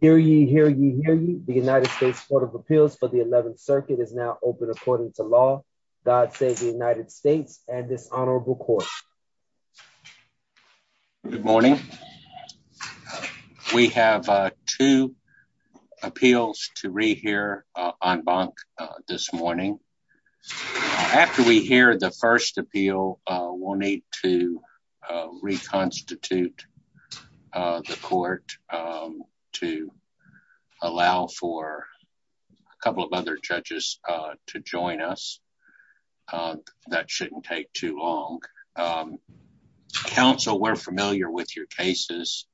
Hear ye, hear ye, hear ye. The United States Court of Appeals for the 11th Circuit is now open according to law. God save the United States and this honorable court. Good morning. We have two appeals to rehear en banc this morning. After we hear the first appeal, we'll need to reconstitute the court to allow for a couple of other judges to join us. That shouldn't take too long. Counsel, we're familiar with your cases.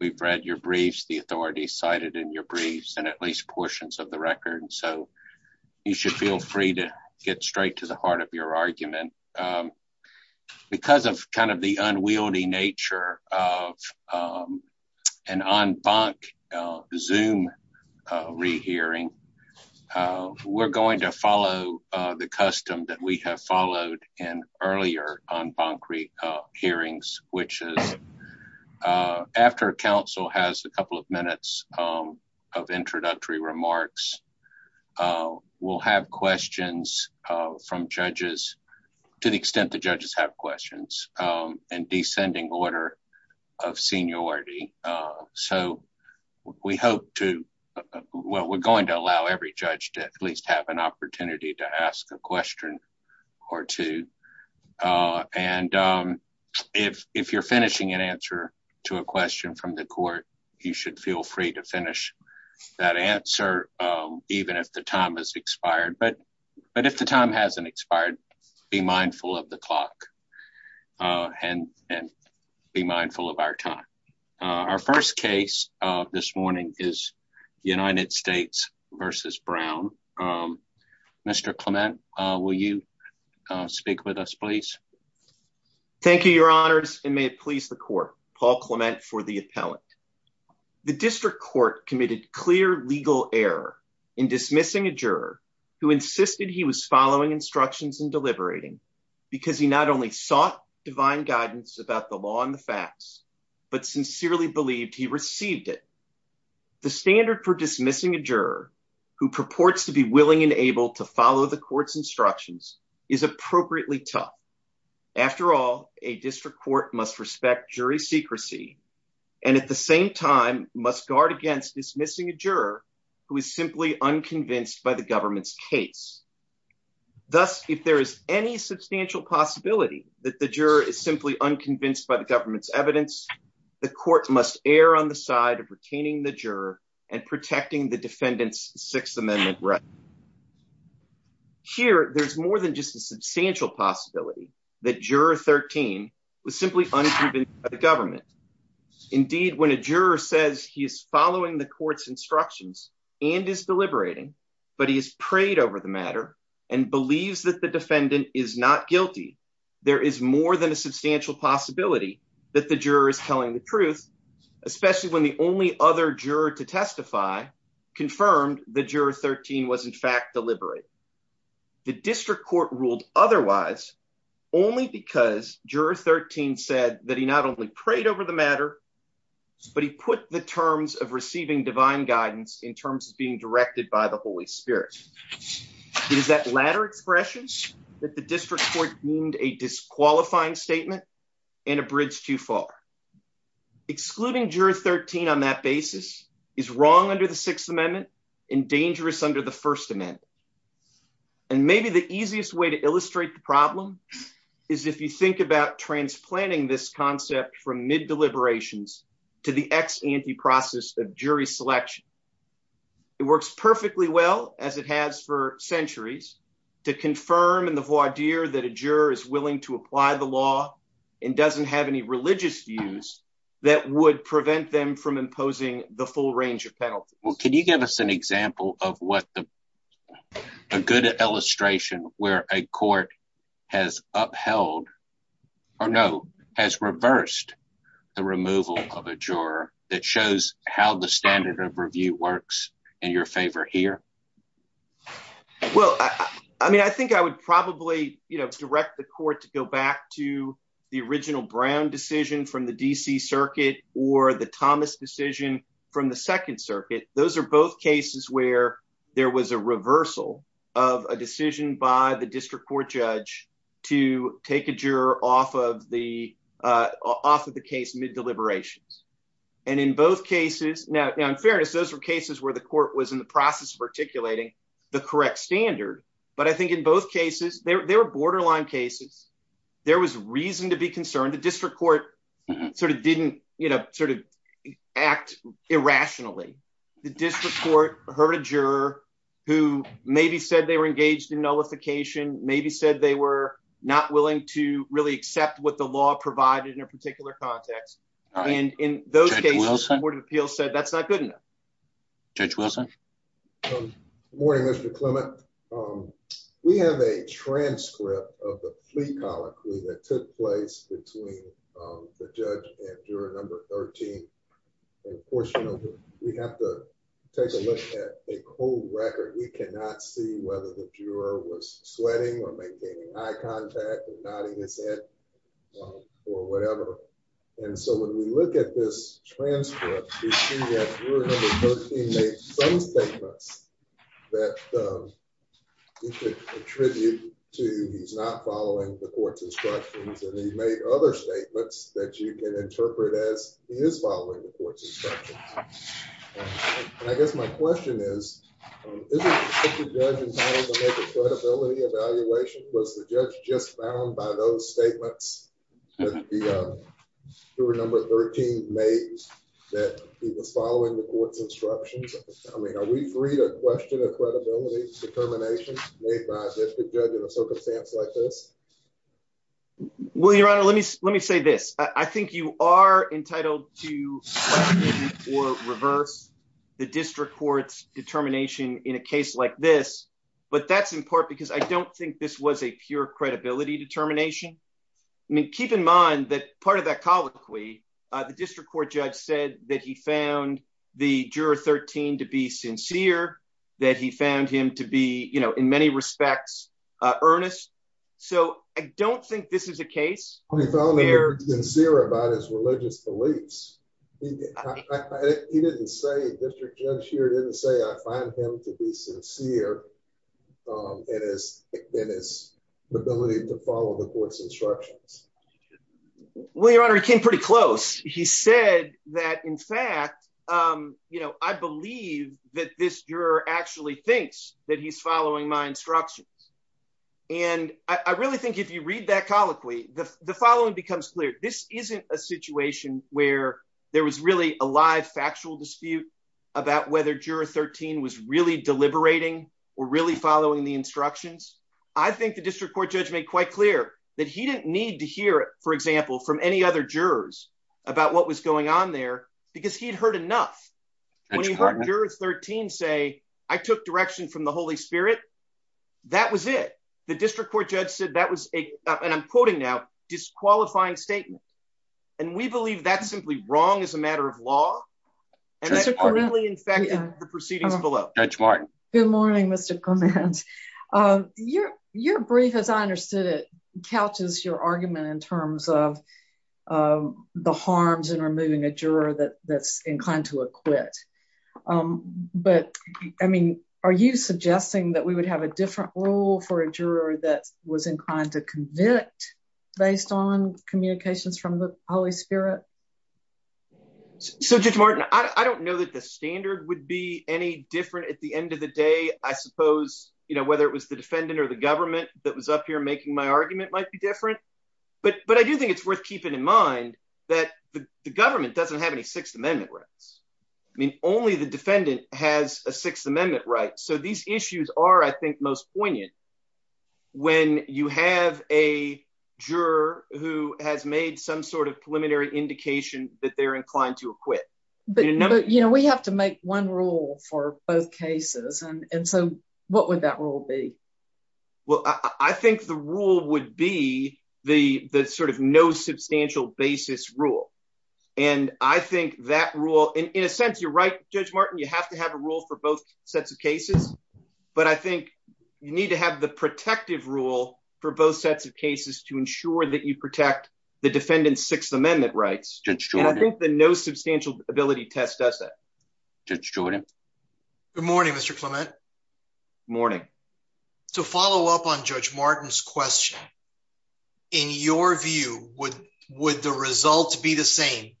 We've read your briefs, the authorities cited in your briefs, and at least portions of the record. So you should feel free to get straight to the heart of your argument. Because of kind of the unwieldy nature of an en banc Zoom rehearing, we're going to follow the custom that we have followed in earlier en banc hearings, which is that after counsel has a couple of minutes of introductory remarks, we'll have questions from judges, to the extent the judges have questions, in descending order of seniority. So we hope to, well, we're going to allow every judge to at least have an opportunity to ask a to a question from the court. You should feel free to finish that answer, even if the time has expired. But if the time hasn't expired, be mindful of the clock and be mindful of our time. Our first case this morning is United States v. Brown. Mr. Clement, will you speak with us, Paul Clement, for the appellant? The district court committed clear legal error in dismissing a juror who insisted he was following instructions and deliberating because he not only sought divine guidance about the law and the facts, but sincerely believed he received it. The standard for dismissing a juror who purports to be willing and able to follow the court's instructions is appropriately tough. After all, a district court must respect jury secrecy and at the same time must guard against dismissing a juror who is simply unconvinced by the government's case. Thus, if there is any substantial possibility that the juror is simply unconvinced by the government's evidence, the court must err on the side of retaining the juror and protecting the defendant's Sixth Amendment right. Here, there's more than just a substantial possibility that juror 13 was simply unproven by the government. Indeed, when a juror says he is following the court's instructions and is deliberating, but he has prayed over the matter and believes that the defendant is not guilty, there is more than a substantial possibility that the juror is telling the truth, especially when the only other juror to testify confirmed that juror 13 was in fact deliberating. The district court ruled otherwise only because juror 13 said that he not only prayed over the matter, but he put the terms of receiving divine guidance in terms of being directed by the Holy Spirit. It is that latter expression that the district court deemed a disqualifying statement and a bridge too far. Excluding juror 13 on that basis is wrong under the Sixth Amendment and dangerous under the First Amendment. And maybe the easiest way to illustrate the problem is if you think about transplanting this concept from mid-deliberations to the ex-ante process of jury selection. It works perfectly well, as it has for centuries, to confirm in the voir dire that a juror is willing to apply the law and doesn't have any religious views that would prevent them from imposing the full range of penalties. Well, can you give us an example of what a good illustration where a court has upheld, or no, has reversed the removal of a juror that shows how the standard of review works in your favor here? Well, I mean, I think I would probably direct the court to go back to the original Brown decision from the D.C. Circuit or the Thomas decision from the Second Circuit. Those are both cases where there was a reversal of a decision by the district court judge to take a juror off of the case mid-deliberations. And in both cases, now in fairness, those were where the court was in the process of articulating the correct standard. But I think in both cases, they were borderline cases. There was reason to be concerned. The district court sort of didn't sort of act irrationally. The district court heard a juror who maybe said they were engaged in nullification, maybe said they were not willing to really accept what the law provided in a particular context. And in those cases, the Court of Appeals said that's not good Judge Wilson. Good morning, Mr. Clement. We have a transcript of the plea colloquy that took place between the judge and juror number 13. Of course, you know, we have to take a look at a cold record. We cannot see whether the juror was sweating or maintaining eye contact or nodding his head or whatever. And so when we look at this transcript, we see that juror number 13 made some statements that you could attribute to he's not following the court's instructions. And he made other statements that you can interpret as he is following the court's instructions. I guess my question is, is the judge entitled to make a credibility evaluation? Was the judge just bound by those statements that the juror number 13 made that he was following the court's instructions? I mean, are we free to question a credibility determination made by the judge in a circumstance like this? Well, Your Honor, let me let me say this. I think you are entitled to or reverse the district court's determination in a case like this. But that's in part because I don't think this was a pure credibility determination. I mean, keep in mind that part of that colloquy, the district court judge said that he found the juror 13 to be sincere, that he found him to be, you know, in many respects, earnest. So I don't think this is a case. He felt sincere about his religious beliefs. He didn't say district judge here didn't say I find him to be sincere. It is it is the ability to follow the court's instructions. Well, Your Honor, he came pretty close. He said that, in fact, you know, I believe that this juror actually thinks that he's following my instructions. And I really think if you read that colloquy, the following becomes clear. This isn't a situation where there was really a live dispute about whether juror 13 was really deliberating or really following the instructions. I think the district court judge made quite clear that he didn't need to hear, for example, from any other jurors about what was going on there because he'd heard enough. When he heard juror 13 say I took direction from the Holy Spirit, that was it. The district court judge said that was a and I'm quoting now disqualifying statement. And we believe that's simply wrong as a matter of law. And that's partly in fact the proceedings below. Judge Martin. Good morning, Mr. Clement. Your brief, as I understood it, couches your argument in terms of the harms in removing a juror that's inclined to acquit. But, I mean, are you suggesting that we would have a different rule for a juror that was inclined to convict based on communications from the Holy Spirit? So, Judge Martin, I don't know that the standard would be any different at the end of the day. I suppose, you know, whether it was the defendant or the government that was up here making my argument might be different. But I do think it's worth keeping in mind that the government doesn't have any Sixth Amendment rights. I mean, only the defendant has a Sixth Amendment right. So these issues are, I think, most poignant when you have a sort of preliminary indication that they're inclined to acquit. But, you know, we have to make one rule for both cases. And so what would that rule be? Well, I think the rule would be the sort of no substantial basis rule. And I think that rule, in a sense, you're right, Judge Martin, you have to have a rule for both sets of cases. But I think you need to have the Sixth Amendment rights. And I think the no substantial ability test does that. Judge Jordan. Good morning, Mr. Clement. Morning. So follow up on Judge Martin's question. In your view, would the results be the same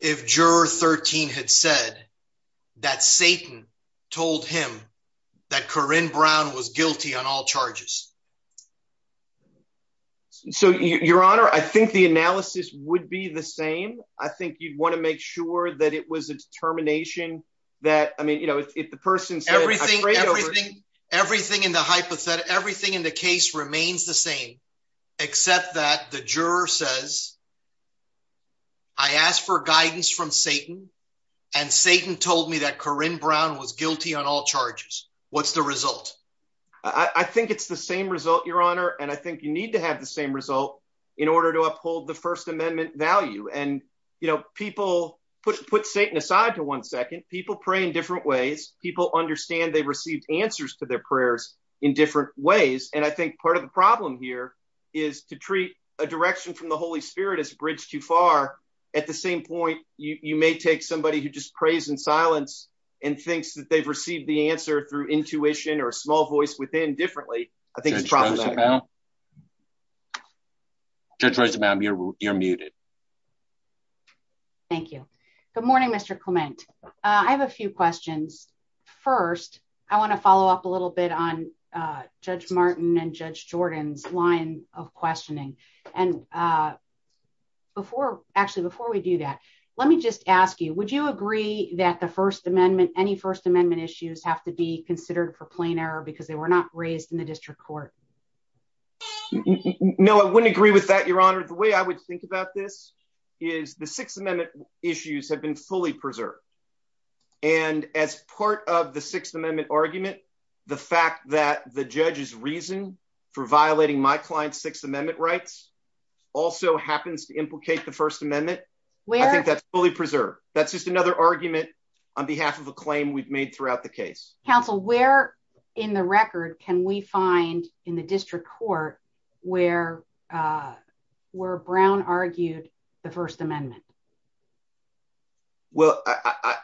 if Juror 13 had said that Satan told him that Corrine Brown was guilty on all charges? So, Your Honor, I think the analysis would be the same. I think you'd want to make sure that it was a determination that I mean, you know, if the person said everything, everything, everything in the hypothetical, everything in the case remains the same, except that the juror says, I asked for guidance from Satan. And Satan told me that Corrine Brown was guilty on all charges. What's the result? I think it's the same result, Your Honor. And I think you need to have the same result in order to uphold the First Amendment value. And, you know, people put Satan aside to one second. People pray in different ways. People understand they received answers to their prayers in different ways. And I think part of the problem here is to treat a direction from the Holy Spirit as a bridge too far. At the same point, you may take somebody who just prays in silence and thinks that they've received the answer through intuition or a small voice within differently. I think it's processing. Judge Rosenbaum, you're muted. Thank you. Good morning, Mr. Clement. I have a few questions. First, I want to follow up a little bit on Judge Martin and Judge Jordan's line of questioning. And before, actually, before we do that, let me just ask you, would you agree that the First Amendment, any First Amendment issues have to be considered for plain error because they were not raised in the district court? No, I wouldn't agree with that, Your Honor. The way I would think about this is the Sixth Amendment issues have been fully preserved. And as part of the Sixth Amendment argument, the fact that the judge's reason for violating my client's Sixth Amendment rights also happens to implicate the First Amendment. I think that's fully preserved. That's just another argument on behalf of a claim we've made throughout the case. Counsel, where in the record can we find in the district court where Brown argued the First Amendment? Well,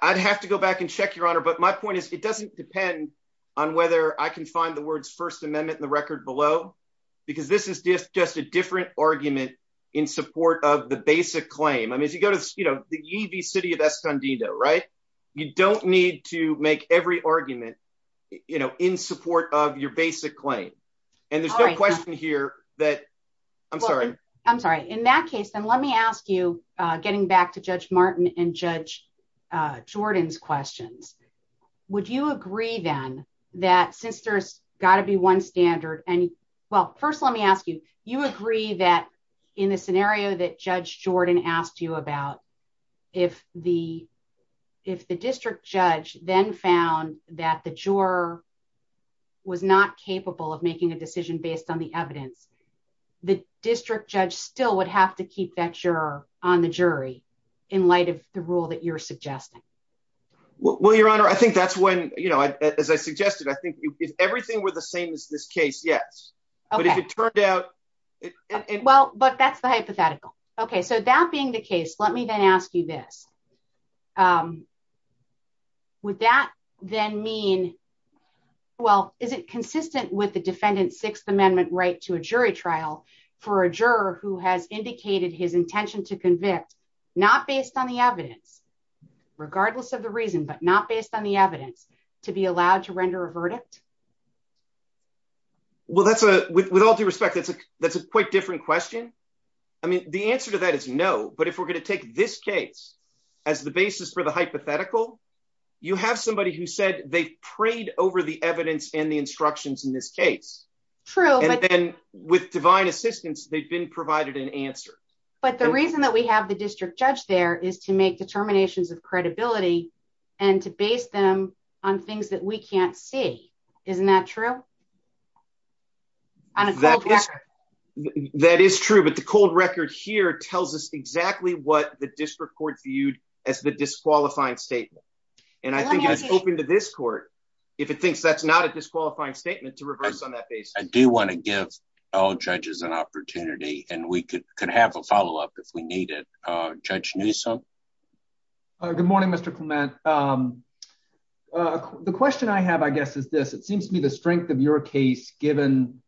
I'd have to go back and check, Your Honor. But my point is, it doesn't depend on whether I can find the words First Amendment in the record below, because this is just a different argument in support of the basic claim. I mean, if you go to the city of Escondido, right, you don't need to make every argument in support of your basic claim. And there's no question here that, I'm sorry. I'm sorry. In that case, then let me ask you, getting back to Judge Martin and Judge Jordan's questions, would you agree then that since there's got to be one standard, and well, first let me ask you, you agree that in the scenario that Judge Jordan asked you about, if the district judge then found that the juror was not capable of making a decision based on the evidence, the district judge still would have to keep that juror on the jury in light of the rule that you're suggesting? Well, Your Honor, I think that's when, as I suggested, I think if everything were the same as this case, yes. But if it turned out... Well, but that's the hypothetical. Okay. So that being the case, let me then ask you this. Would that then mean, well, is it consistent with the defendant's Sixth Amendment right to a jury trial for a juror who has indicated his intention to convict, not based on the evidence, regardless of the reason, but not based on the evidence, to be allowed to render a verdict? Well, with all due respect, that's a quite different question. I mean, the answer to that is no. But if we're going to take this case as the basis for the hypothetical, you have somebody who said they prayed over the evidence and the instructions in this case. True. And then with divine assistance, they've been provided an answer. But the reason that we have the district judge there is to make determinations of credibility and to base them on things that we can't see. Isn't that true? That is true. But the cold record here tells us exactly what the district court viewed as the disqualifying statement. And I think it's open to this court, if it thinks that's not a disqualifying statement, to reverse on that basis. I do want to give all judges an opportunity and we could have a follow up if we need it. Judge Newsome. Good morning, Mr. Clement. The question I have, I guess, is this. It seems to me the strength of your case, given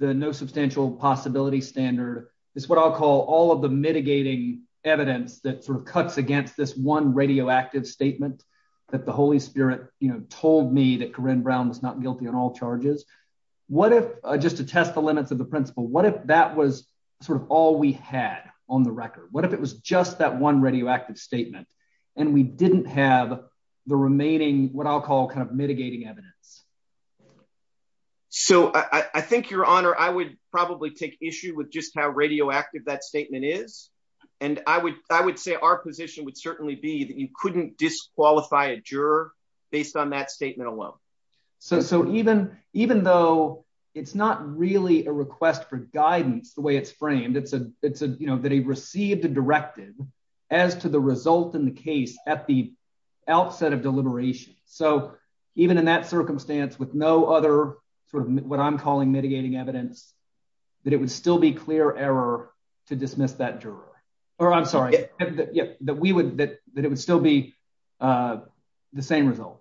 the no substantial possibility standard, is what I'll call all of the mitigating evidence that cuts against this one radioactive statement that the Holy Spirit told me that Corrine Brown was not guilty on all charges. What if, just to test the limits of the principle, what if that was sort of all we had on the record? What if it was just that one radioactive statement and we didn't have the remaining, what I'll call kind of mitigating evidence? So I think, Your Honor, I would probably take issue with just how radioactive that statement is. And I would I would say our position would certainly be that you couldn't disqualify a guidance the way it's framed. It's that he received a directive as to the result in the case at the outset of deliberation. So even in that circumstance, with no other sort of what I'm calling mitigating evidence, that it would still be clear error to dismiss that jury. Or I'm sorry, that we would that it would still be the same result.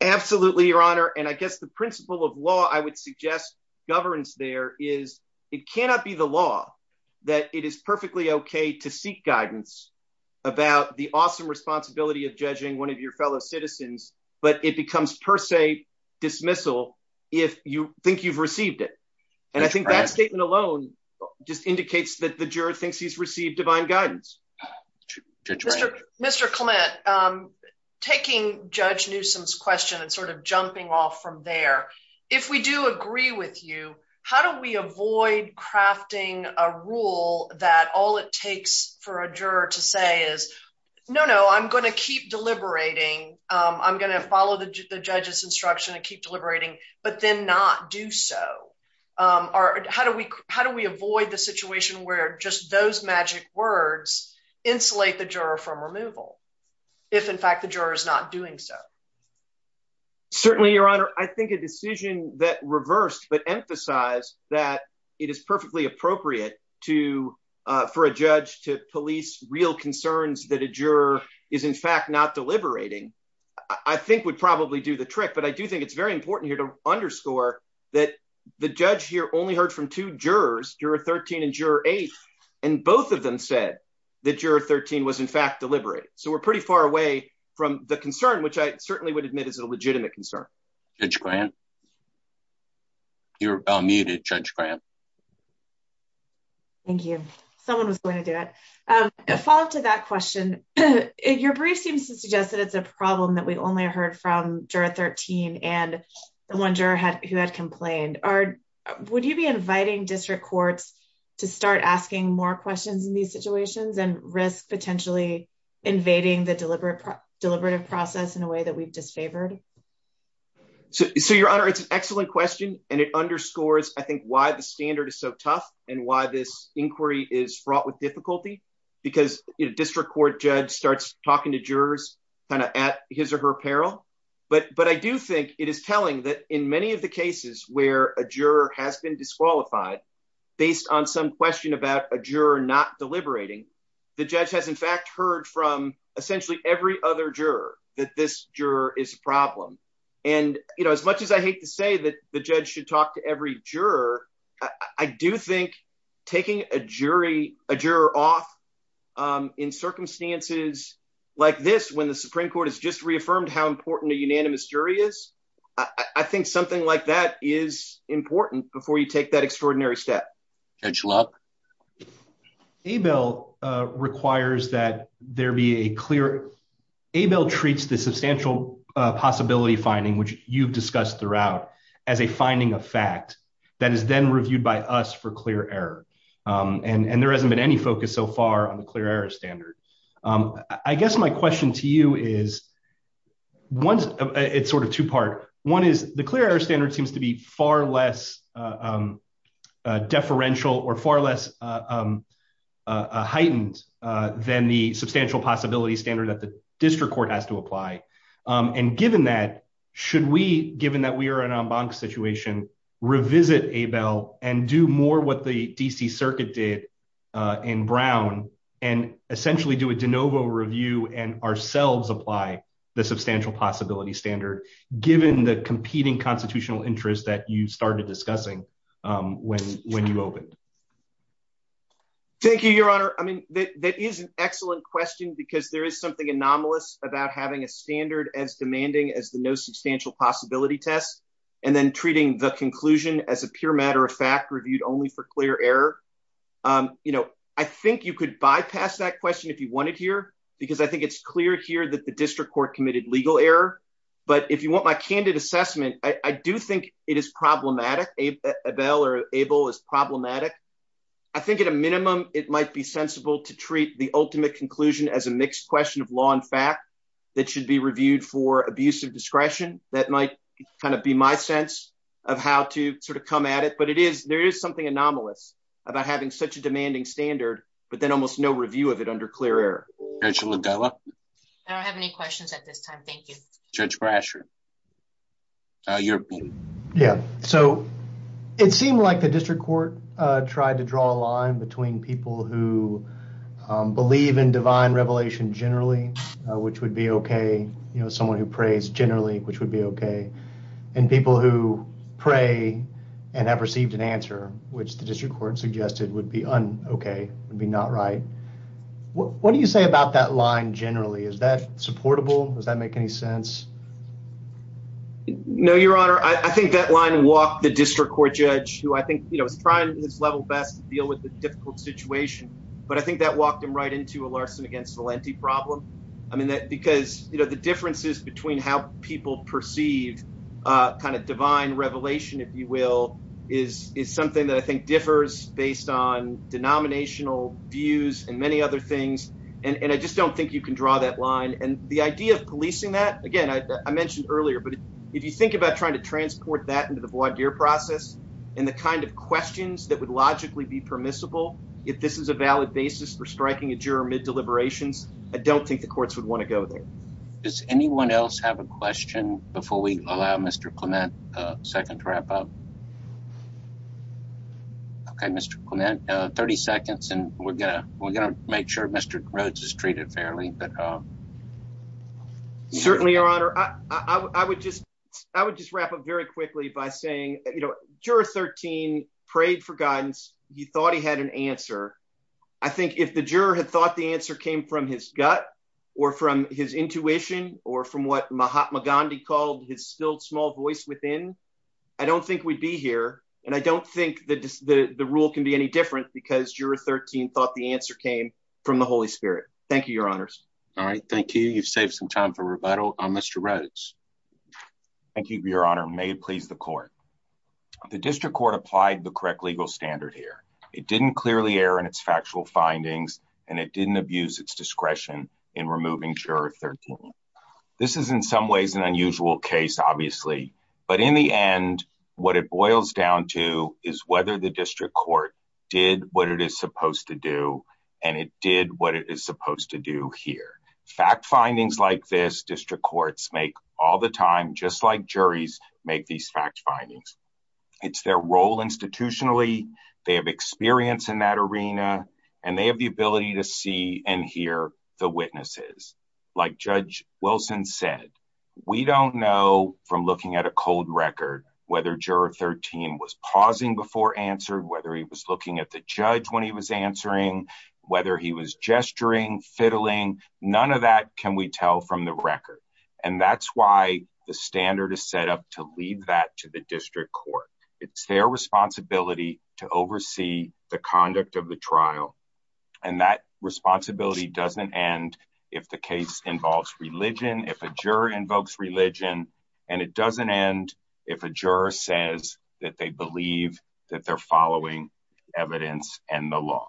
Absolutely, Your Honor. And I guess the principle of law, I would suggest governance there is it cannot be the law that it is perfectly OK to seek guidance about the awesome responsibility of judging one of your fellow citizens, but it becomes per se dismissal if you think you've received it. And I think that statement alone just indicates that the juror thinks he's received divine guidance. To Mr. Clement, taking Judge Newsom's question and sort of jumping off from there, if we do agree with you, how do we avoid crafting a rule that all it takes for a juror to say is, no, no, I'm going to keep deliberating. I'm going to follow the judge's instruction and keep deliberating, but then not do so. Or how do we how do we avoid the situation where just those magic words insulate the juror from removal if, in fact, the juror is not doing so? Certainly, Your Honor, I think a decision that reversed but emphasize that it is perfectly appropriate to for a judge to police real concerns that a juror is, in fact, not deliberating, I think would probably do the trick. But I do think it's very important here to underscore that the judge here only heard from two jurors, Juror 13 and Juror 8, and both of them said that Juror 13 was, in fact, deliberating. So we're pretty far away from the concern, which I certainly would admit is a legitimate concern. Judge Grant? You're unmuted, Judge Grant. Thank you. Someone was going to do it. A follow-up to that question, your brief seems to suggest that it's a problem that we only heard from jurors who had complained. Would you be inviting district courts to start asking more questions in these situations and risk potentially invading the deliberative process in a way that we've disfavored? So, Your Honor, it's an excellent question, and it underscores, I think, why the standard is so tough and why this inquiry is fraught with difficulty, because a district court judge starts talking to jurors kind of at his or her peril. But I do think it is telling that in many of the cases where a juror has been disqualified based on some question about a juror not deliberating, the judge has, in fact, heard from essentially every other juror that this juror is a problem. And, you know, as much as I hate to say that the judge should talk to every juror, I do think taking a jury, a juror off in circumstances like this when the Supreme Court has just reaffirmed how important a unanimous jury is, I think something like that is important before you take that extraordinary step. Judge Love? Abel requires that there be a clear... Abel treats the substantial possibility finding, which you've discussed throughout, as a finding of fact that is then reviewed by us for clear error. And there hasn't been any focus so far on the clear error standard. I guess my question to you is, it's sort of two-part. One is the clear error standard seems to be far less deferential or far less heightened than the substantial possibility standard that the district court has to apply. And given that, should we, given that we are in an en banc situation, revisit Abel and do more what the D.C. Circuit did in Brown and essentially do a de novo review and ourselves apply the substantial possibility standard, given the competing constitutional interests that you started discussing when you opened? Thank you, Your Honor. I mean, that is an excellent question because there is something anomalous about having a standard as demanding as the no substantial possibility test and then treating the conclusion as a pure matter of fact reviewed only for clear error. You know, I think you could bypass that question if you wanted here because I think it's clear here that the district court committed legal error. But if you want my candid assessment, I do think it is problematic. Abel is problematic. I think at a minimum, it might be sensible to treat the ultimate conclusion as a mixed question of law and fact that should be reviewed for abuse of discretion. That might kind of be my sense of how to sort of come at it. But it is there is something anomalous about having such a demanding standard, but then almost no review of it under clear error. I don't have any questions at this time. Thank you, Judge Brasher. Yeah. So it seemed like the district court tried to draw a line between people who believe in divine revelation generally, which would be okay. You know, someone who prays generally, which would be okay. And people who pray and have received an answer, which the district court suggested would be unokay, would be not right. What do you say about that line generally? Is that supportable? Does that make any sense? No, Your Honor. I think that line walked the district court judge who I think, you know, is trying his level best to deal with the difficult situation. But I think that walked him right into a Larson against Valenti problem. I mean, because, you know, the differences between how people perceive kind of divine revelation, if you will, is something that I think differs based on denominational views and many other things. And I just don't think you can draw that line. And the idea of policing that, again, I mentioned earlier, but if you think about trying to transport that into the voir dire process and the kind of questions that would logically be permissible, if this is a valid basis for striking a juror mid deliberations, I don't think the courts would want to go there. Does anyone else have a question before we allow Mr Clement a second to wrap up? Okay, Mr Clement, 30 seconds, and we're gonna make sure Mr Rhodes is treated fairly. Um, certainly, Your Honor, I would just I would just wrap up very quickly by saying, you know, juror 13 prayed for guidance. He thought he had an answer. I think if the juror had thought the answer came from his gut or from his intuition or from what Mahatma Gandhi called his still small voice within, I don't think we'd be here. And I don't think that the rule can be any different because you're 13 thought the answer came from the Holy Spirit. Thank you, Your Honors. All right. Thank you. You've saved some time for rebuttal on Mr Rhodes. Thank you, Your Honor. May it please the court. The district court applied the correct legal standard here. It didn't clearly air in its factual findings, and it didn't abuse its discretion in removing juror 13. This is in some ways an unusual case, obviously, but in the end, what it boils down to is whether the district court did what it is supposed to do, and it did what it is supposed to do here. Fact findings like this district courts make all the time, just like juries make these fact findings. It's their role institutionally. They have experience in that arena, and they have the ability to see and hear the witnesses. Like Judge Wilson said, we don't know from looking at a cold record whether juror 13 was pausing before answer, whether he was looking at the judge when he was answering, whether he was gesturing, fiddling. None of that can we tell from the record, and that's why the standard is set up to lead that to the district court. It's their responsibility to oversee the conduct of the trial, and that responsibility doesn't end if the case involves religion, if a juror invokes religion, and it evidence and the law.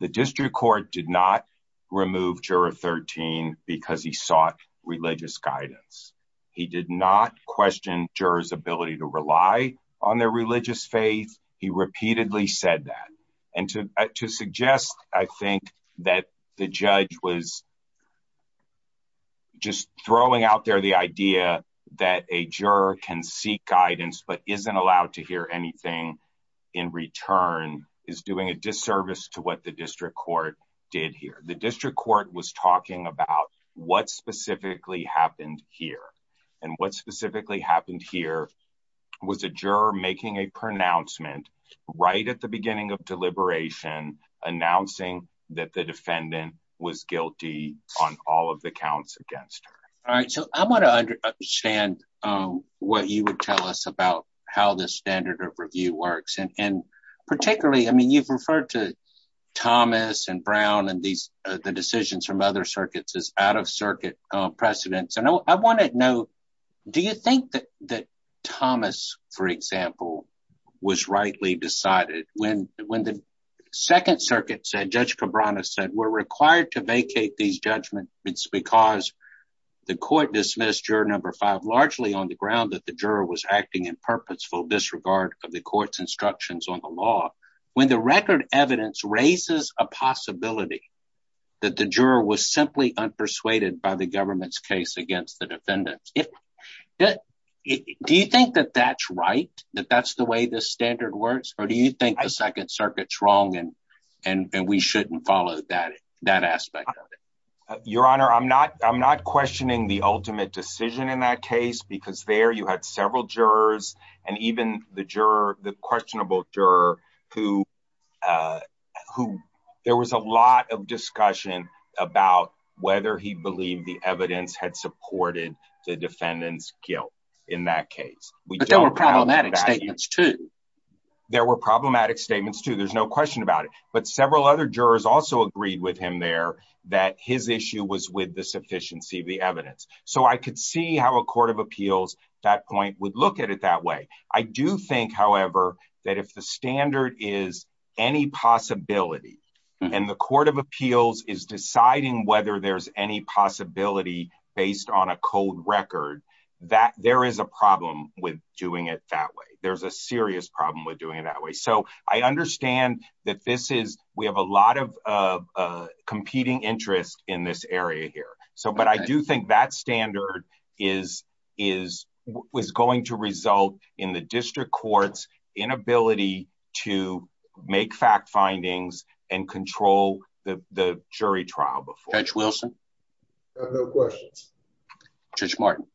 The district court did not remove juror 13 because he sought religious guidance. He did not question jurors' ability to rely on their religious faith. He repeatedly said that, and to suggest, I think, that the judge was just throwing out there the idea that a juror can seek guidance but isn't allowed to hear anything in return is doing a disservice to what the district court did here. The district court was talking about what specifically happened here, and what specifically happened here was a juror making a pronouncement right at the beginning of deliberation announcing that the defendant was guilty on all of the counts against her. All right, so I want to understand what you would tell us about how this standard of review works, and particularly, I mean, you've referred to Thomas and Brown and the decisions from other circuits as out-of-circuit precedents, and I want to know, do you think that Thomas, for example, was rightly decided when the Second Circuit said, Judge Cabrana said, we're required to vacate these judgments because the court dismissed juror number five largely on the ground that the juror was acting in purposeful disregard of the court's instructions on the law. When the record evidence raises a possibility that the juror was simply unpersuaded by the government's case against the defendant, do you think that that's right, that that's the way this standard works, or do you think the Second Circuit's wrong and we shouldn't follow that aspect of it? Your Honor, I'm not questioning the ultimate decision in that case because there you had several jurors and even the juror, the questionable juror, who there was a lot of discussion about whether he believed the evidence had supported the defendant's guilt in that case. But there were problematic statements too. There were problematic statements too, there's no question about it, but several other jurors also agreed with him there that his issue was with the sufficiency of the evidence. So I could see how a court of appeals at that point would look at it that way. I do think, however, that if the standard is any possibility and the court of appeals is doing it that way, there's a serious problem with doing it that way. So I understand that we have a lot of competing interest in this area here, but I do think that standard is going to result in the district court's inability to make fact findings and control the jury trial before. Judge Wilson? I have no questions. Judge Martin?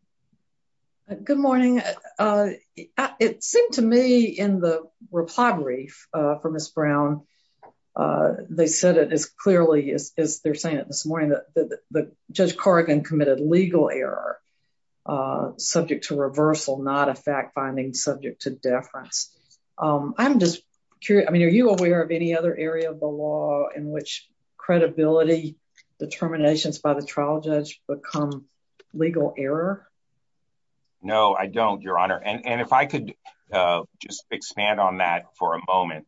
Good morning. It seemed to me in the reply brief for Ms. Brown, they said it as clearly as they're saying it this morning that Judge Corrigan committed legal error subject to reversal, not a fact finding subject to deference. I'm just curious, I mean, are you aware of any other area of the law in which credibility determinations by the trial judge become legal error? No, I don't, Your Honor. And if I could just expand on that for a moment,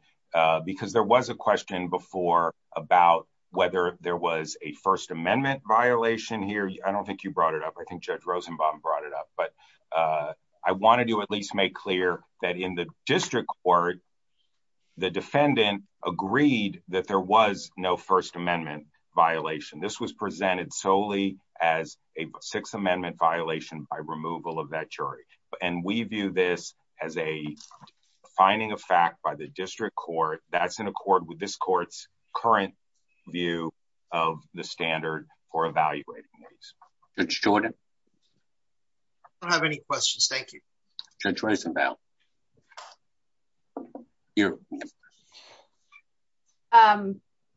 because there was a question before about whether there was a First Amendment violation here. I don't think you brought it up. I think Judge Rosenbaum brought it up. But I wanted to at least make clear that in the district court, the defendant agreed that there was no First Amendment violation. This was presented solely as a Sixth Amendment violation by removal of that jury. And we view this as a finding of fact by the district court that's in accord with this court's current view of the standard for evaluating these. Judge Jordan? I don't have any questions. Thank you. Judge Rosenbaum?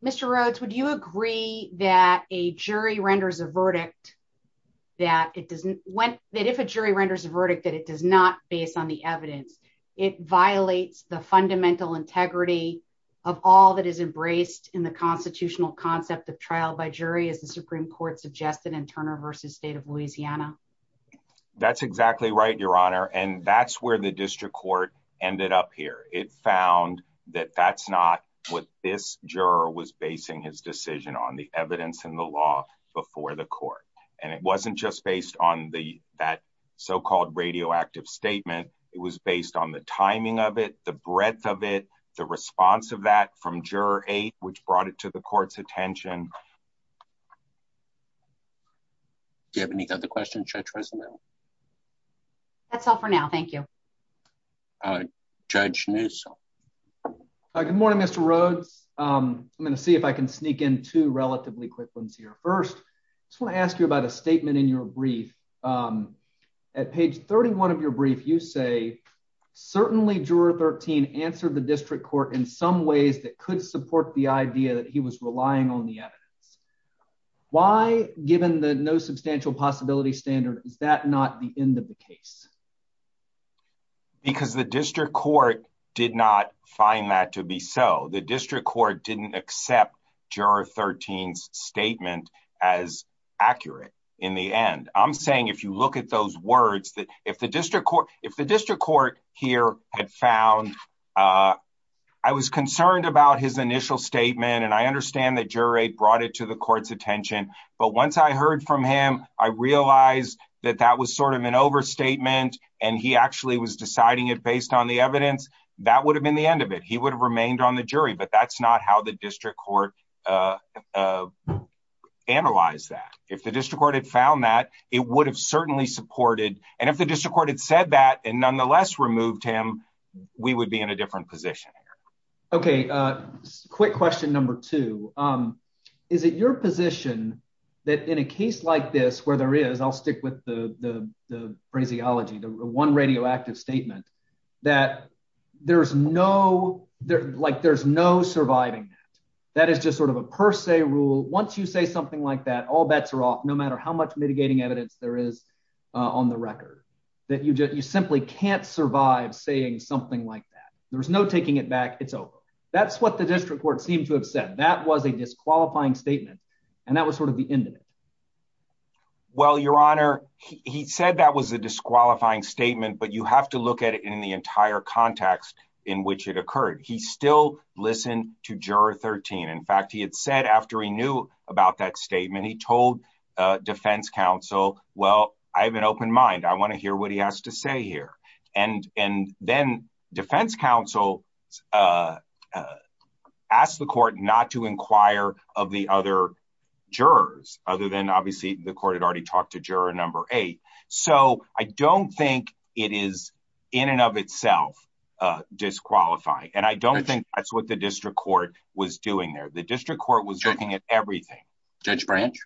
Mr. Rhodes, would you agree that if a jury renders a verdict that it does not, based on the evidence, it violates the fundamental integrity of all that is embraced in the constitutional concept of trial by jury, as the Supreme Court suggested in Turner v. State of Louisiana? That's exactly right, Your Honor. And that's where the district court ended up here. It found that that's not what this juror was basing his decision on, the evidence in the law before the court. And it wasn't just based on that so-called radioactive statement. It was based on the timing of it, the breadth of it, the response of that from Juror 8, which brought it to the court's attention. Do you have any other questions, Judge Rosenbaum? That's all for now. Thank you. All right. Judge Newsom? Good morning, Mr. Rhodes. I'm going to see if I can sneak in two relatively quick ones here. First, I just want to ask you about a statement in your brief. At page 31 of your brief, you say, certainly Juror 13 answered the district court in some ways that could support the idea that he was relying on the evidence. Why, given the no substantial possibility standard, is that not the end of the case? Because the district court did not find that to be so. The district court didn't accept Juror 13's statement as accurate in the end. I'm saying, if you look at those words, that if the district court here had found, I was concerned about his initial statement, and I understand that Juror 8 brought it to the court's attention, but once I heard from him, I realized that that was sort of an overstatement, and he actually was deciding it based on the evidence, that would have been the end of it. He would have remained on the jury, but that's not how the district court analyzed that. If the district court had found that, it would have certainly supported, and if the district court had said that and nonetheless removed him, we would be in a different position here. Okay, quick question number two. Is it your position that in a case like this, where there is, I'll stick with the phraseology, the one radioactive statement, that there's no surviving that? That is just sort of a per se rule. Once you say something like that, all bets are off, no matter how much mitigating evidence there is on the record, that you simply can't survive saying something like that. There's no taking it back, it's over. That's what the district court seemed to have said. That was a disqualifying statement, and that was sort of the end of it. Well, Your Honor, he said that was a disqualifying statement, but you have to look at it in the entire context in which it occurred. He still listened to Juror 13. In fact, he had said after he knew about that statement, he told defense counsel, well, I have an open mind, I want to then defense counsel ask the court not to inquire of the other jurors, other than obviously the court had already talked to Juror number eight. So I don't think it is in and of itself disqualifying, and I don't think that's what the district court was doing there. The district court was looking at everything. Judge Branch?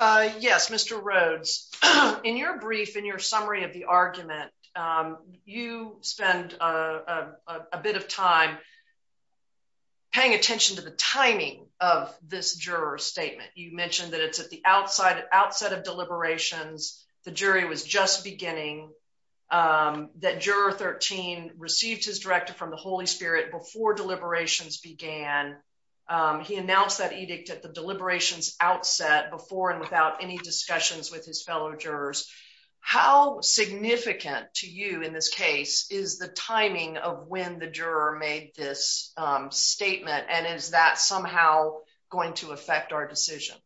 Yes, Mr. Rhodes. In your brief, in your summary of the argument, you spend a bit of time paying attention to the timing of this juror statement. You mentioned that it's at the outset of deliberations, the jury was just beginning, that Juror 13 received his directive from the Holy Spirit before deliberations began. He announced that edict at the deliberations outset before and without any discussions with his fellow jurors. How significant to you in this case is the timing of when the juror made this statement, and is that somehow going to affect our decision?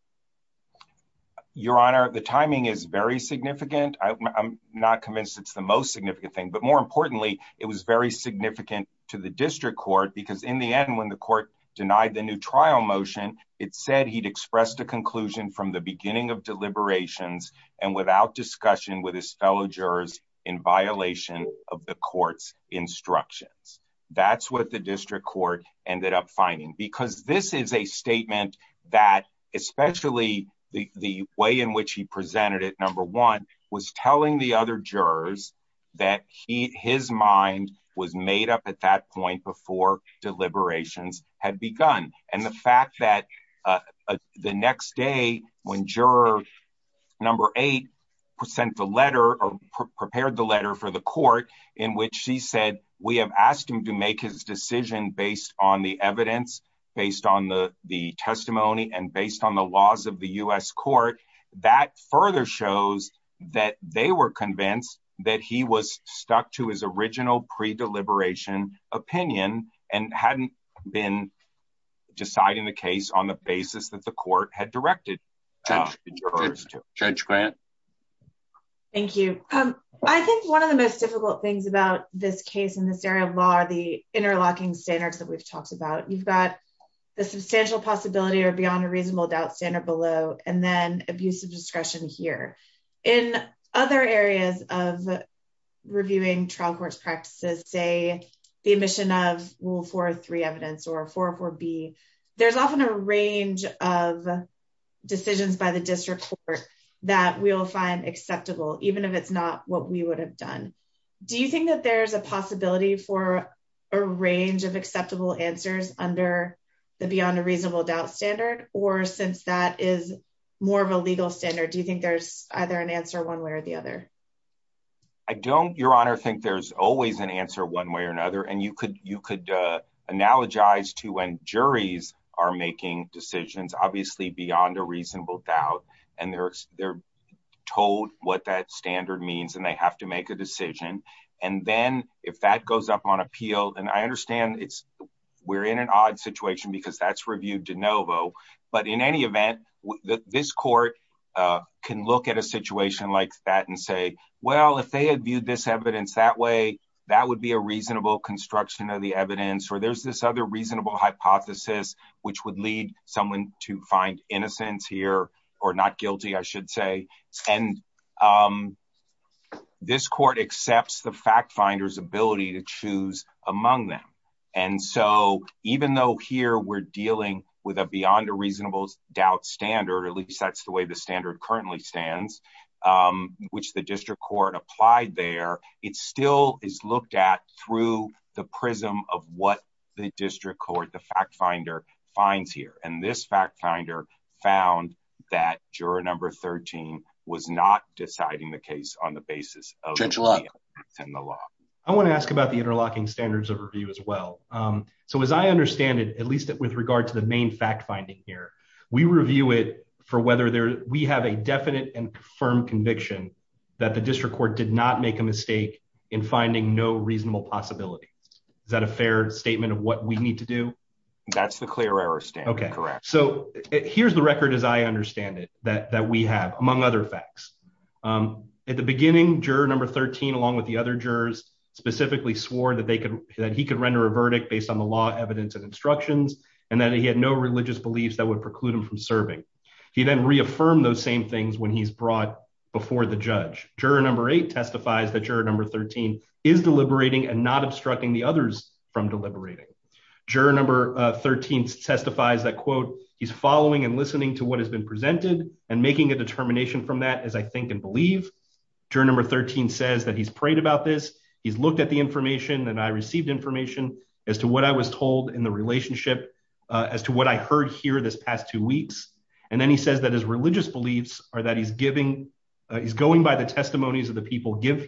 Your Honor, the timing is very significant. I'm not convinced it's the most significant thing, but more importantly, it was very significant to the district court because in the end, when the court denied the new trial motion, it said he'd expressed a conclusion from the beginning of deliberations and without discussion with his fellow jurors in violation of the court's instructions. That's what the district court ended up finding, because this is a statement that especially the way in which he presented it, number one, was telling the other had begun. And the fact that the next day when Juror 8 sent the letter or prepared the letter for the court in which he said, we have asked him to make his decision based on the evidence, based on the testimony, and based on the laws of the U.S. Court, that further shows that they were been deciding the case on the basis that the court had directed. Judge, go ahead. Thank you. I think one of the most difficult things about this case in this area of law are the interlocking standards that we've talked about. You've got the substantial possibility or beyond a reasonable doubt standard below, and then abusive discretion here. In other areas of 404B, there's often a range of decisions by the district court that we'll find acceptable, even if it's not what we would have done. Do you think that there's a possibility for a range of acceptable answers under the beyond a reasonable doubt standard? Or since that is more of a legal standard, do you think there's either an answer one way or the other? I don't, Your Honor, think there's always an answer one way or another. And you could analogize to when juries are making decisions, obviously beyond a reasonable doubt, and they're told what that standard means and they have to make a decision. And then if that goes up on appeal, and I understand we're in an odd situation because that's reviewed de novo, but in any event, this court can look at a situation like that and say, well, if they viewed this evidence that way, that would be a reasonable construction of the evidence. Or there's this other reasonable hypothesis, which would lead someone to find innocence here or not guilty, I should say. And this court accepts the fact finder's ability to choose among them. And so even though here we're dealing with a beyond a reasonable doubt standard, at least there, it still is looked at through the prism of what the district court, the fact finder, finds here. And this fact finder found that juror number 13 was not deciding the case on the basis of the law. I want to ask about the interlocking standards of review as well. So as I understand it, at least with regard to the main fact finding here, we review it for whether we have a definite and firm conviction that the district court did not make a mistake in finding no reasonable possibility. Is that a fair statement of what we need to do? That's the clear error standard, correct. So here's the record as I understand it, that we have, among other facts. At the beginning, juror number 13, along with the other jurors, specifically swore that he could render a verdict based on the law, evidence, and instructions, and that he had no religious beliefs that would before the judge. Juror number 8 testifies that juror number 13 is deliberating and not obstructing the others from deliberating. Juror number 13 testifies that, quote, he's following and listening to what has been presented and making a determination from that as I think and believe. Juror number 13 says that he's prayed about this, he's looked at the information, and I received information as to what I was told in the relationship, as to what I heard here this is going by the testimonies of the people give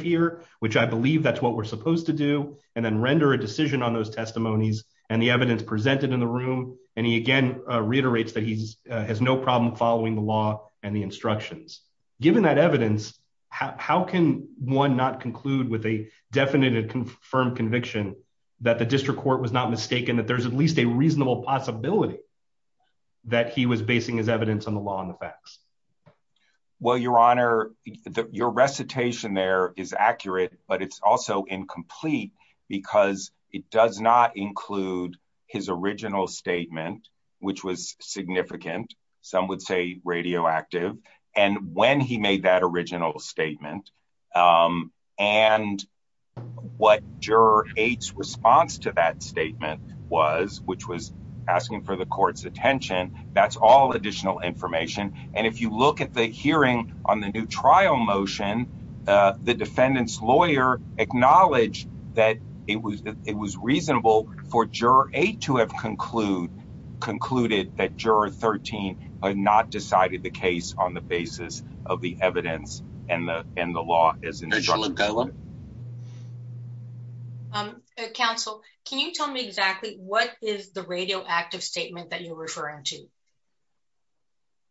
here, which I believe that's what we're supposed to do, and then render a decision on those testimonies and the evidence presented in the room. And he again reiterates that he has no problem following the law and the instructions. Given that evidence, how can one not conclude with a definite and confirmed conviction that the district court was not mistaken, that there's at least a reasonable possibility that he was basing his evidence on the law and the facts? Well, your honor, your recitation there is accurate, but it's also incomplete because it does not include his original statement, which was significant. Some would say radioactive. And when he made that original statement, and what juror 8's response to that statement was, which was asking for the court's attention, that's all additional information. And if you look at the hearing on the new trial motion, the defendant's lawyer acknowledged that it was reasonable for juror 8 to have concluded that juror 13 had not decided the case on the basis of the evidence and the law. Um, counsel, can you tell me exactly what is the radioactive statement that you're referring to?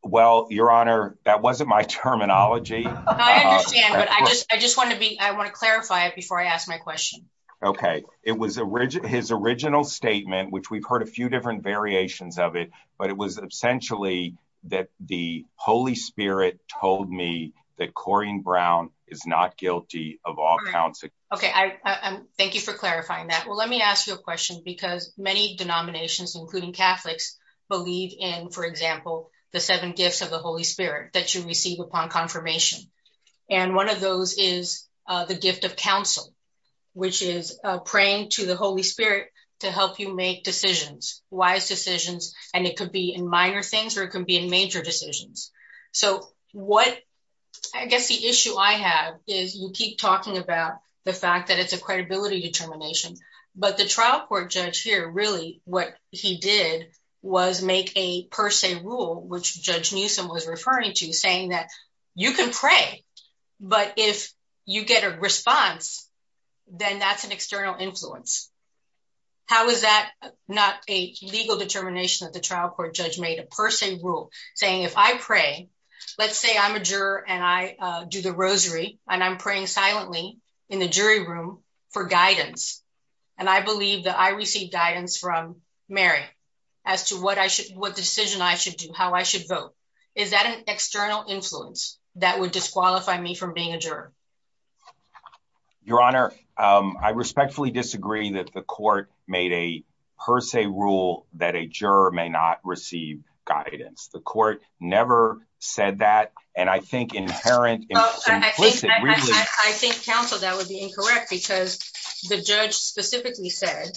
Well, your honor, that wasn't my terminology. I understand, but I just, I just want to be, I want to clarify it before I ask my question. Okay. It was a rigid, his original statement, which we've heard a few different variations of it, but it was essentially that the Holy Spirit told me that Corrine Brown is not guilty of all counts. Okay. I thank you for clarifying that. Well, let me ask you a question because many denominations, including Catholics, believe in, for example, the seven gifts of the Holy Spirit that you receive upon confirmation. And one of those is the gift of counsel, which is praying to the Holy Spirit to help you make decisions, wise decisions. And it could be in minor things where it can be in major decisions. So what, I guess the issue I have is you keep talking about the fact that it's a credibility determination, but the trial court judge here, really what he did was make a per se rule, which judge Newsom was referring to saying that you can pray, but if you get a response, then that's an external influence. How is that not a legal determination that the trial court judge made a per se rule saying, if I pray, let's say I'm a juror and I do the rosary and I'm praying silently in the jury room for guidance. And I believe that I received guidance from Mary as to what I should, what decision I should do, how I should vote. Is that an external influence that would disqualify me from being a juror? Your honor, I respectfully disagree that the court made a per se rule that a juror may not receive guidance. The court never said that. And I think I think counsel that would be incorrect because the judge specifically said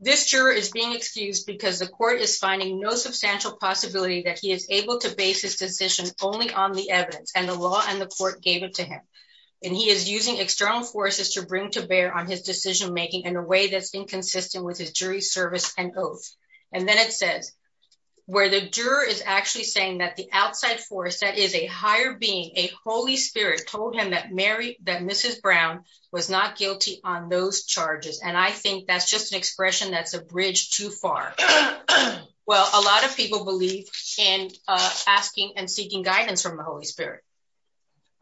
this juror is being excused because the court is finding no substantial possibility that he is able to base his decision only on the evidence and the law and the court gave it to him. And he is using external forces to bring to bear on his decision-making in a way that's inconsistent with his jury service and oath. And then it says where the juror is actually saying that the outside force that is a higher being a Holy spirit told him that Mary, that Mrs. Brown was not guilty on those charges. And I think that's just an expression. That's a bridge too far. Well, a lot of people believe in asking and seeking guidance from the Holy spirit.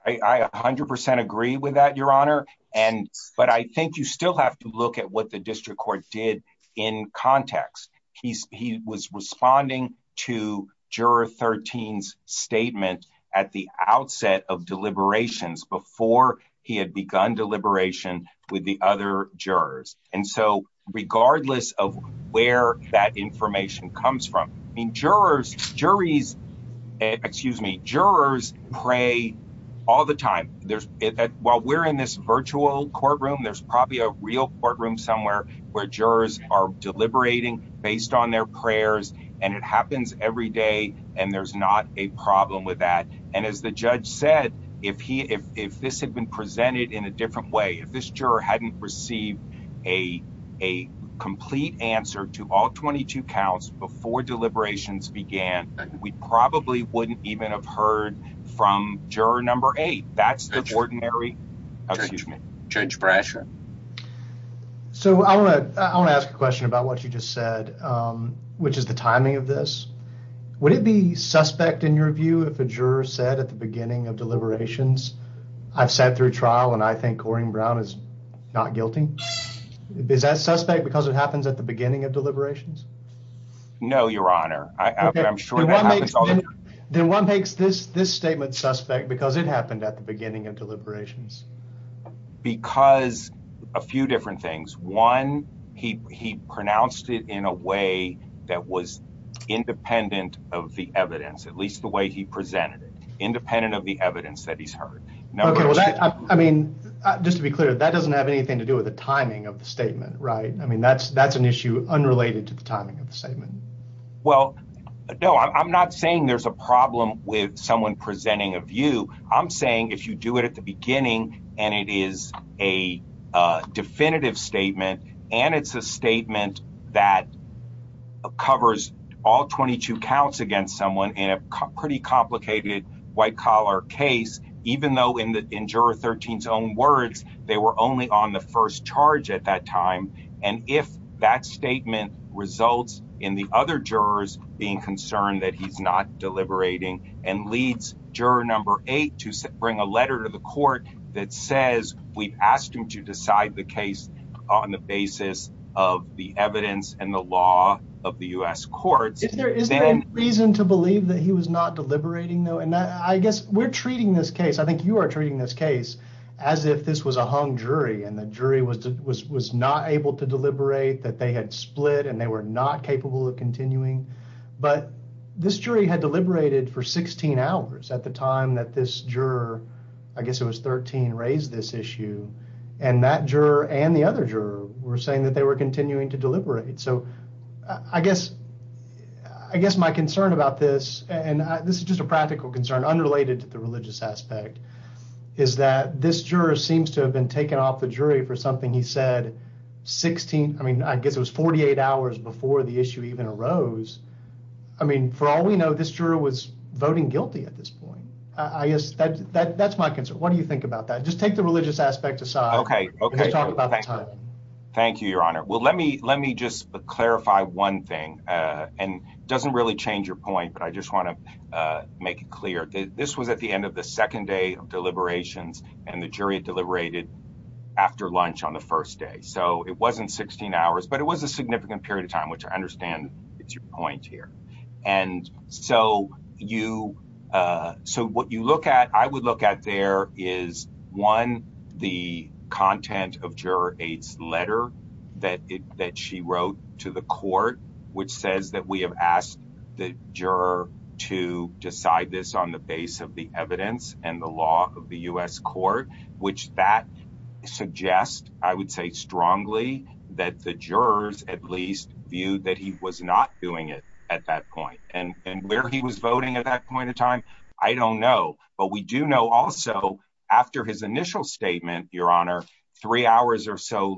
I, I a hundred percent agree with that, your honor. And, but I think you still have to look at what the district court did in context. He's, he was responding to juror 13 statement at the outset of deliberations before he had begun deliberation with the other jurors. And so regardless of where that information comes from, I mean, jurors, juries, excuse me, pray all the time. There's while we're in this virtual courtroom, there's probably a real courtroom somewhere where jurors are deliberating based on their prayers and it happens every day. And there's not a problem with that. And as the judge said, if he, if, if this had been presented in a different way, if this juror hadn't received a, a complete answer to all 22 counts before deliberations began, we probably wouldn't even have heard from juror number eight. That's the ordinary judge pressure. So I want to, I want to ask a question about what you just said, which is the timing of this. Would it be suspect in your view, if a juror said at the beginning of deliberations, I've sat through trial and I think Corrine Brown is not guilty. Is that suspect because it happens at the beginning of deliberations? No, your honor. I'm sure then one makes this, this statement suspect because it happened at the beginning of deliberations because a few different things. One, he, he pronounced it in a way that was independent of the evidence, at least the way he presented it independent of the evidence that he's heard. No, I mean, just to be clear, that doesn't have anything to do with the timing of the statement. Right. I mean, that's, that's an issue unrelated to the timing of the statement. Well, no, I'm not saying there's a problem with someone presenting a view. I'm saying if you do it at the beginning and it is a definitive statement and it's a statement that covers all 22 counts against someone in a pretty complicated white collar case, even though in the first charge at that time. And if that statement results in the other jurors being concerned that he's not deliberating and leads juror number eight to bring a letter to the court that says we've asked him to decide the case on the basis of the evidence and the law of the U.S. courts. Is there any reason to believe that he was not deliberating though? And I guess we're treating this case as if this was a hung jury and the jury was, was, was not able to deliberate that they had split and they were not capable of continuing. But this jury had deliberated for 16 hours at the time that this juror, I guess it was 13 raised this issue and that juror and the other juror were saying that they were continuing to deliberate. So I guess, I guess my concern about this and this is just a practical concern unrelated to the religious aspect is that this juror seems to have been taken off the jury for something he said 16. I mean, I guess it was 48 hours before the issue even arose. I mean, for all we know, this juror was voting guilty at this point. I guess that, that, that's my concern. What do you think about that? Just take the religious aspect aside. Okay. Okay. Talk about the time. Thank you, your honor. Well, let me, let me just clarify one thing and doesn't really change your point, but I just want to make it clear that this was at the end of the second day of deliberations and the jury deliberated after lunch on the first day. So it wasn't 16 hours, but it was a significant period of time, which I understand it's your point here. And so you so what you look at, I would look at there is one, the content of to the court, which says that we have asked the juror to decide this on the base of the evidence and the law of the U S court, which that suggest, I would say strongly that the jurors at least view that he was not doing it at that point and where he was voting at that point in time. I don't know, but we do know also after his initial statement, your honor, three hours or so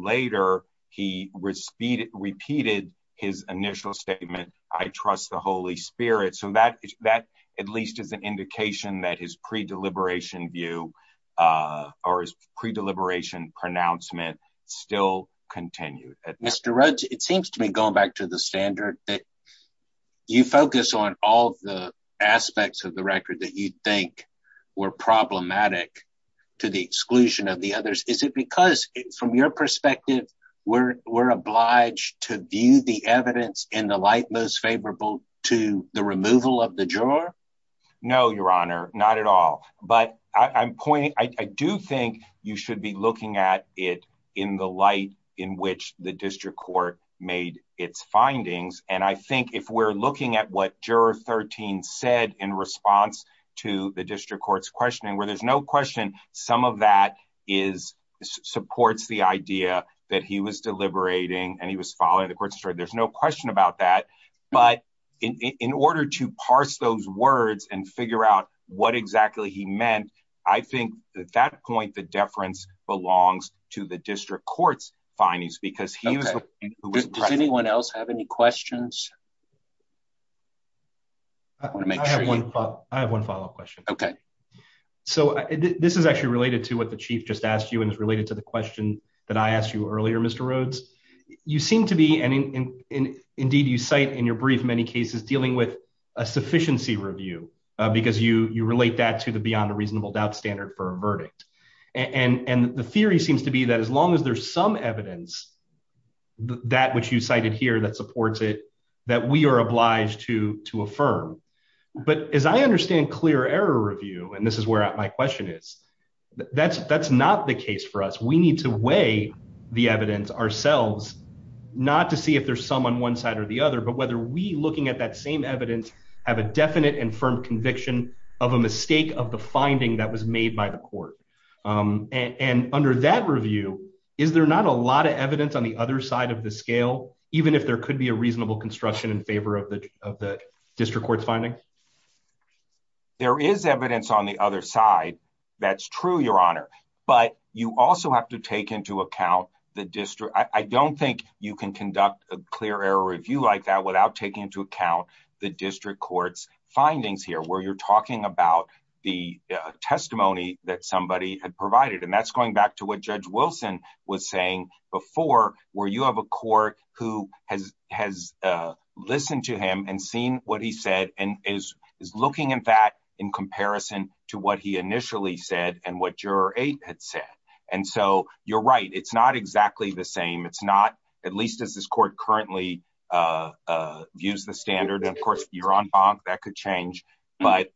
his initial statement, I trust the Holy spirit. So that, that at least as an indication that his pre-deliberation view, uh, or his pre-deliberation pronouncement still continued. Mr. Rhodes, it seems to me going back to the standard that you focus on all the aspects of the record that you'd think were problematic to the exclusion of the others. Is it because from your perspective, we're, we're obliged to view the evidence in the light, most favorable to the removal of the juror? No, your honor, not at all, but I'm pointing, I do think you should be looking at it in the light in which the district court made its findings. And I think if we're looking at what juror 13 said in response to the district court's questioning, where there's no question, some of that is supports the idea that he was deliberating and he was following the court story. There's no question about that, but in order to parse those words and figure out what exactly he meant, I think at that point, the deference belongs to the district court's findings because he was, does anyone else have any questions? I want to make sure I have one follow-up question. Okay. So this is actually related to what the chief just asked you. And it's related to the question that I asked you earlier, Mr. Rhodes, you seem to be, and indeed you cite in your brief, many cases dealing with a sufficiency review, because you, you relate that to the beyond a reasonable doubt standard for a verdict. And the theory seems to be that as long as there's some evidence, that which you cited here, that supports it, that we are obliged to, to affirm. But as I review, and this is where my question is, that's, that's not the case for us. We need to weigh the evidence ourselves, not to see if there's some on one side or the other, but whether we looking at that same evidence have a definite and firm conviction of a mistake of the finding that was made by the court. And under that review, is there not a lot of evidence on the other side of the scale, even if there could be a reasonable construction in favor of the, of the district finding? There is evidence on the other side. That's true, Your Honor. But you also have to take into account the district. I don't think you can conduct a clear error review like that without taking into account the district court's findings here, where you're talking about the testimony that somebody had provided. And that's going back to what Judge Wilson was saying before, where you have a court who has, has listened to him and seen what he said, and is, is looking at that in comparison to what he initially said and what Juror 8 had said. And so you're right, it's not exactly the same. It's not, at least as this court currently views the standard, and of course, you're on bonk, that could change. But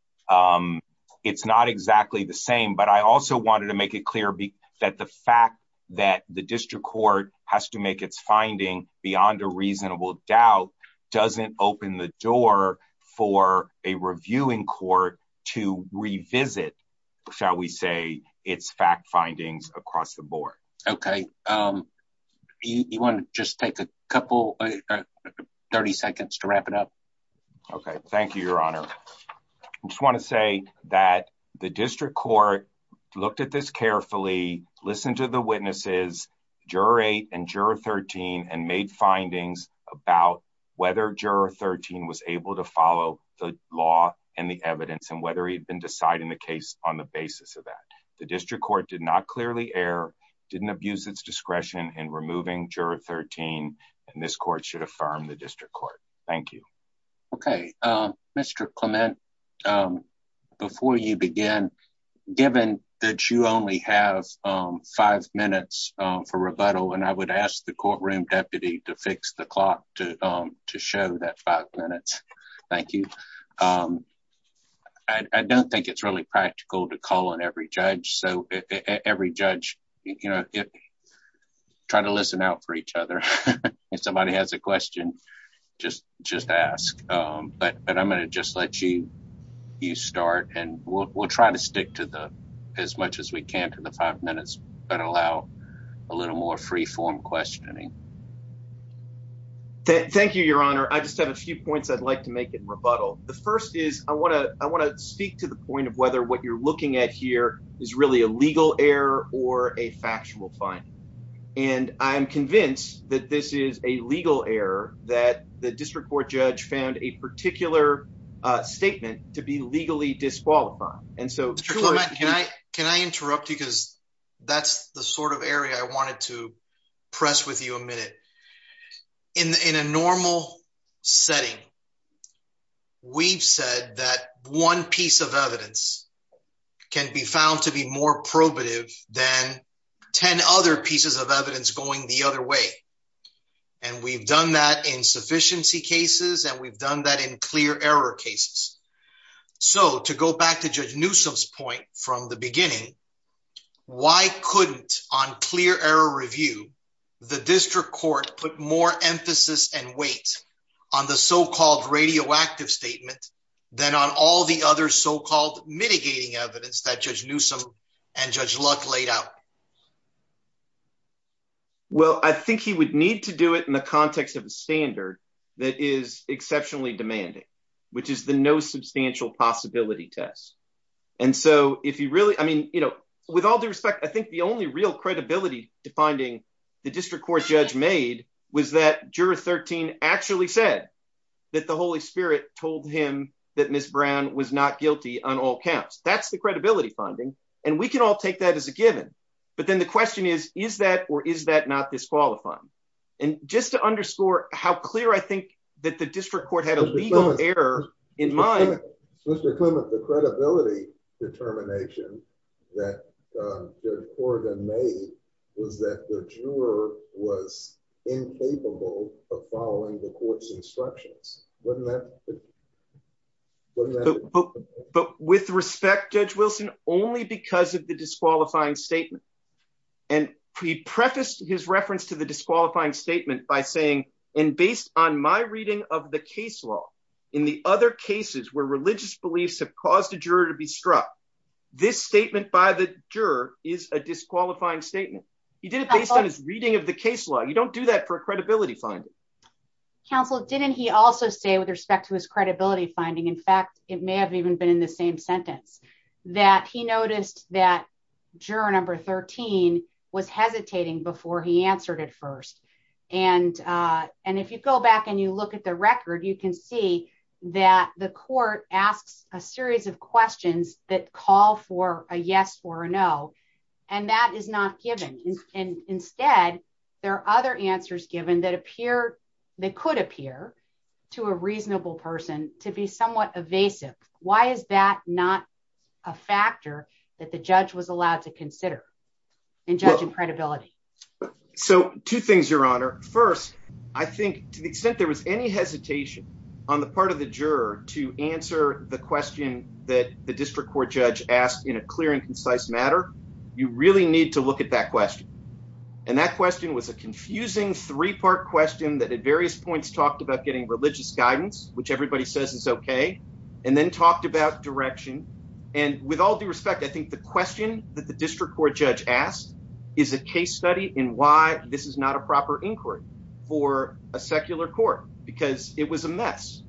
it's not exactly the same. But I also wanted to make it clear that the fact that the district court has to make its finding beyond a reasonable doubt doesn't open the door for a reviewing court to revisit, shall we say, its fact findings across the board. Okay. You want to just take a couple, 30 seconds to wrap it up? Okay. Thank you, Your Honor. Thank you, Mr. Clement. Thank you, Judge Wilson. Thank you, Mr. Clement. I'm going to close carefully, listen to the witnesses, Juror 8 and Juror 13, and made findings about whether Juror 13 was able to follow the law and the evidence, and whether he'd been deciding the case on the basis of that. The district court did not clearly err, didn't abuse its discretion in removing Juror 13, and this court should affirm the district court. Thank you. Okay, Mr. Clement, before you begin, given that you only have five minutes for rebuttal, and I would ask the courtroom deputy to fix the clock to show that five minutes. Thank you. I don't think it's practical to call on every judge, so every judge, try to listen out for each other. If somebody has a question, just ask, but I'm going to just let you start, and we'll try to stick to as much as we can to the five minutes, but allow a little more free-form questioning. Thank you, Your Honor. I just have a few points I'd like to make in rebuttal. The first is, I want to speak to the point of whether what you're looking at here is really a legal error or a factual finding, and I'm convinced that this is a legal error, that the district court judge found a particular statement to be legally disqualified. Mr. Clement, can I interrupt you, because that's the sort of area I wanted to press with you a minute. In a normal setting, we've said that one piece of evidence can be found to be more probative than 10 other pieces of evidence going the other way, and we've done that in sufficiency cases, and we've done that in clear error cases, so to go back to Judge Newsom's point from the beginning, why couldn't on clear error review, the district court put more emphasis and weight on the so-called radioactive statement than on all the other so-called mitigating evidence that Judge Newsom and Judge Luck laid out? Well, I think he would need to do it in the context of a standard that is exceptionally demanding, which is the no substantial possibility test, and so if you really, I mean, you know, with all due respect, I think the only real credibility to finding the district court judge made was that Juror 13 actually said that the Holy Spirit told him that Ms. Brown was not guilty on all counts. That's the credibility finding, and we can all take that as a given, but then the question is, is that or is that not disqualifying? And just to underscore how clear I think that the district court had a legal error in mind, Mr. Clement, the credibility determination that Judge Corrigan made was that the juror was incapable of following the court's instructions. But with respect, Judge Wilson, only because of the disqualifying statement, and he prefaced his reference to the disqualifying statement by saying, and based on my reading of the case law, in the other cases where religious beliefs have caused a juror to be struck, this statement by the juror is a disqualifying statement. He did it based on his reading of the case law. You don't do that for a credibility finding. Counsel, didn't he also say with respect to his credibility finding, in fact, it may have even been in the same sentence, that he noticed that juror number 13 was hesitating before he answered it first. And if you go back and you look at the record, you can see that the court asks a series of questions that call for a yes or a no, and that is not given. Instead, there are other answers given that appear, that could appear to a reasonable person to be somewhat evasive. Why is that not a factor that the judge was allowed to consider in judging credibility? So two things, Your Honor. First, I think to the extent there was any hesitation on the part of the juror to answer the question that the district court judge asked in a clear and concise matter, you really need to look at that question. And that question was a confusing three-part question that at various points talked about getting religious guidance, which everybody says is okay, and then talked about direction. And with all due respect, I think the question that the district court judge asked is a case study in why this is not a proper inquiry for a secular court, because it was a mess.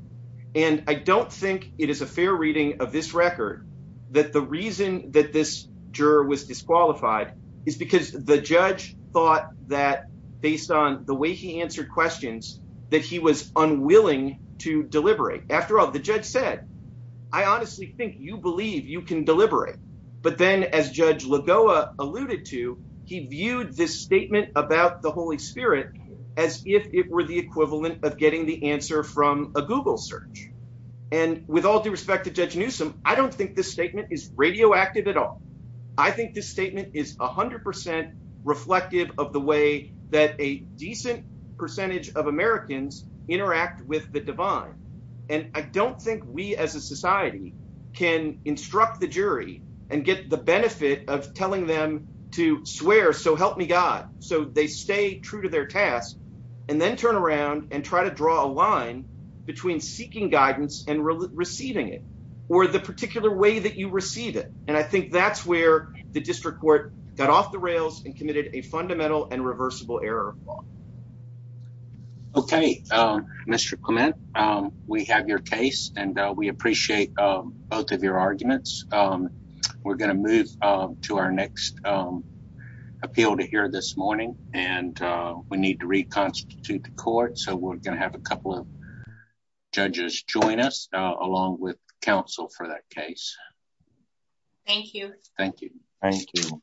And I don't think it is a fair reading of this record that the reason that this juror was disqualified is because the judge thought that based on the way he answered questions, that he was unwilling to deliberate. After all, the judge said, I honestly think you believe you can deliberate. But then as Judge Lagoa alluded to, he viewed this statement about the Holy Spirit as if it were the equivalent of getting the answer from a Google search. And with all due respect to Judge Newsom, I don't think this statement is correct. And I don't think we as a society can instruct the jury and get the benefit of telling them to swear, so help me God, so they stay true to their task, and then turn around and try to draw a line between seeking guidance and receiving it, or the particular way that you receive it. And I think that's where the district court got off the rails and committed a fundamental and reversible error. Okay, Mr. Clement, we have your case and we appreciate both of your arguments. We're going to move to our next appeal to hear this morning, and we need to reconstitute the court. So we're going to have a couple of judges join us along with counsel for that case. Thank you. Thank you. Thank you.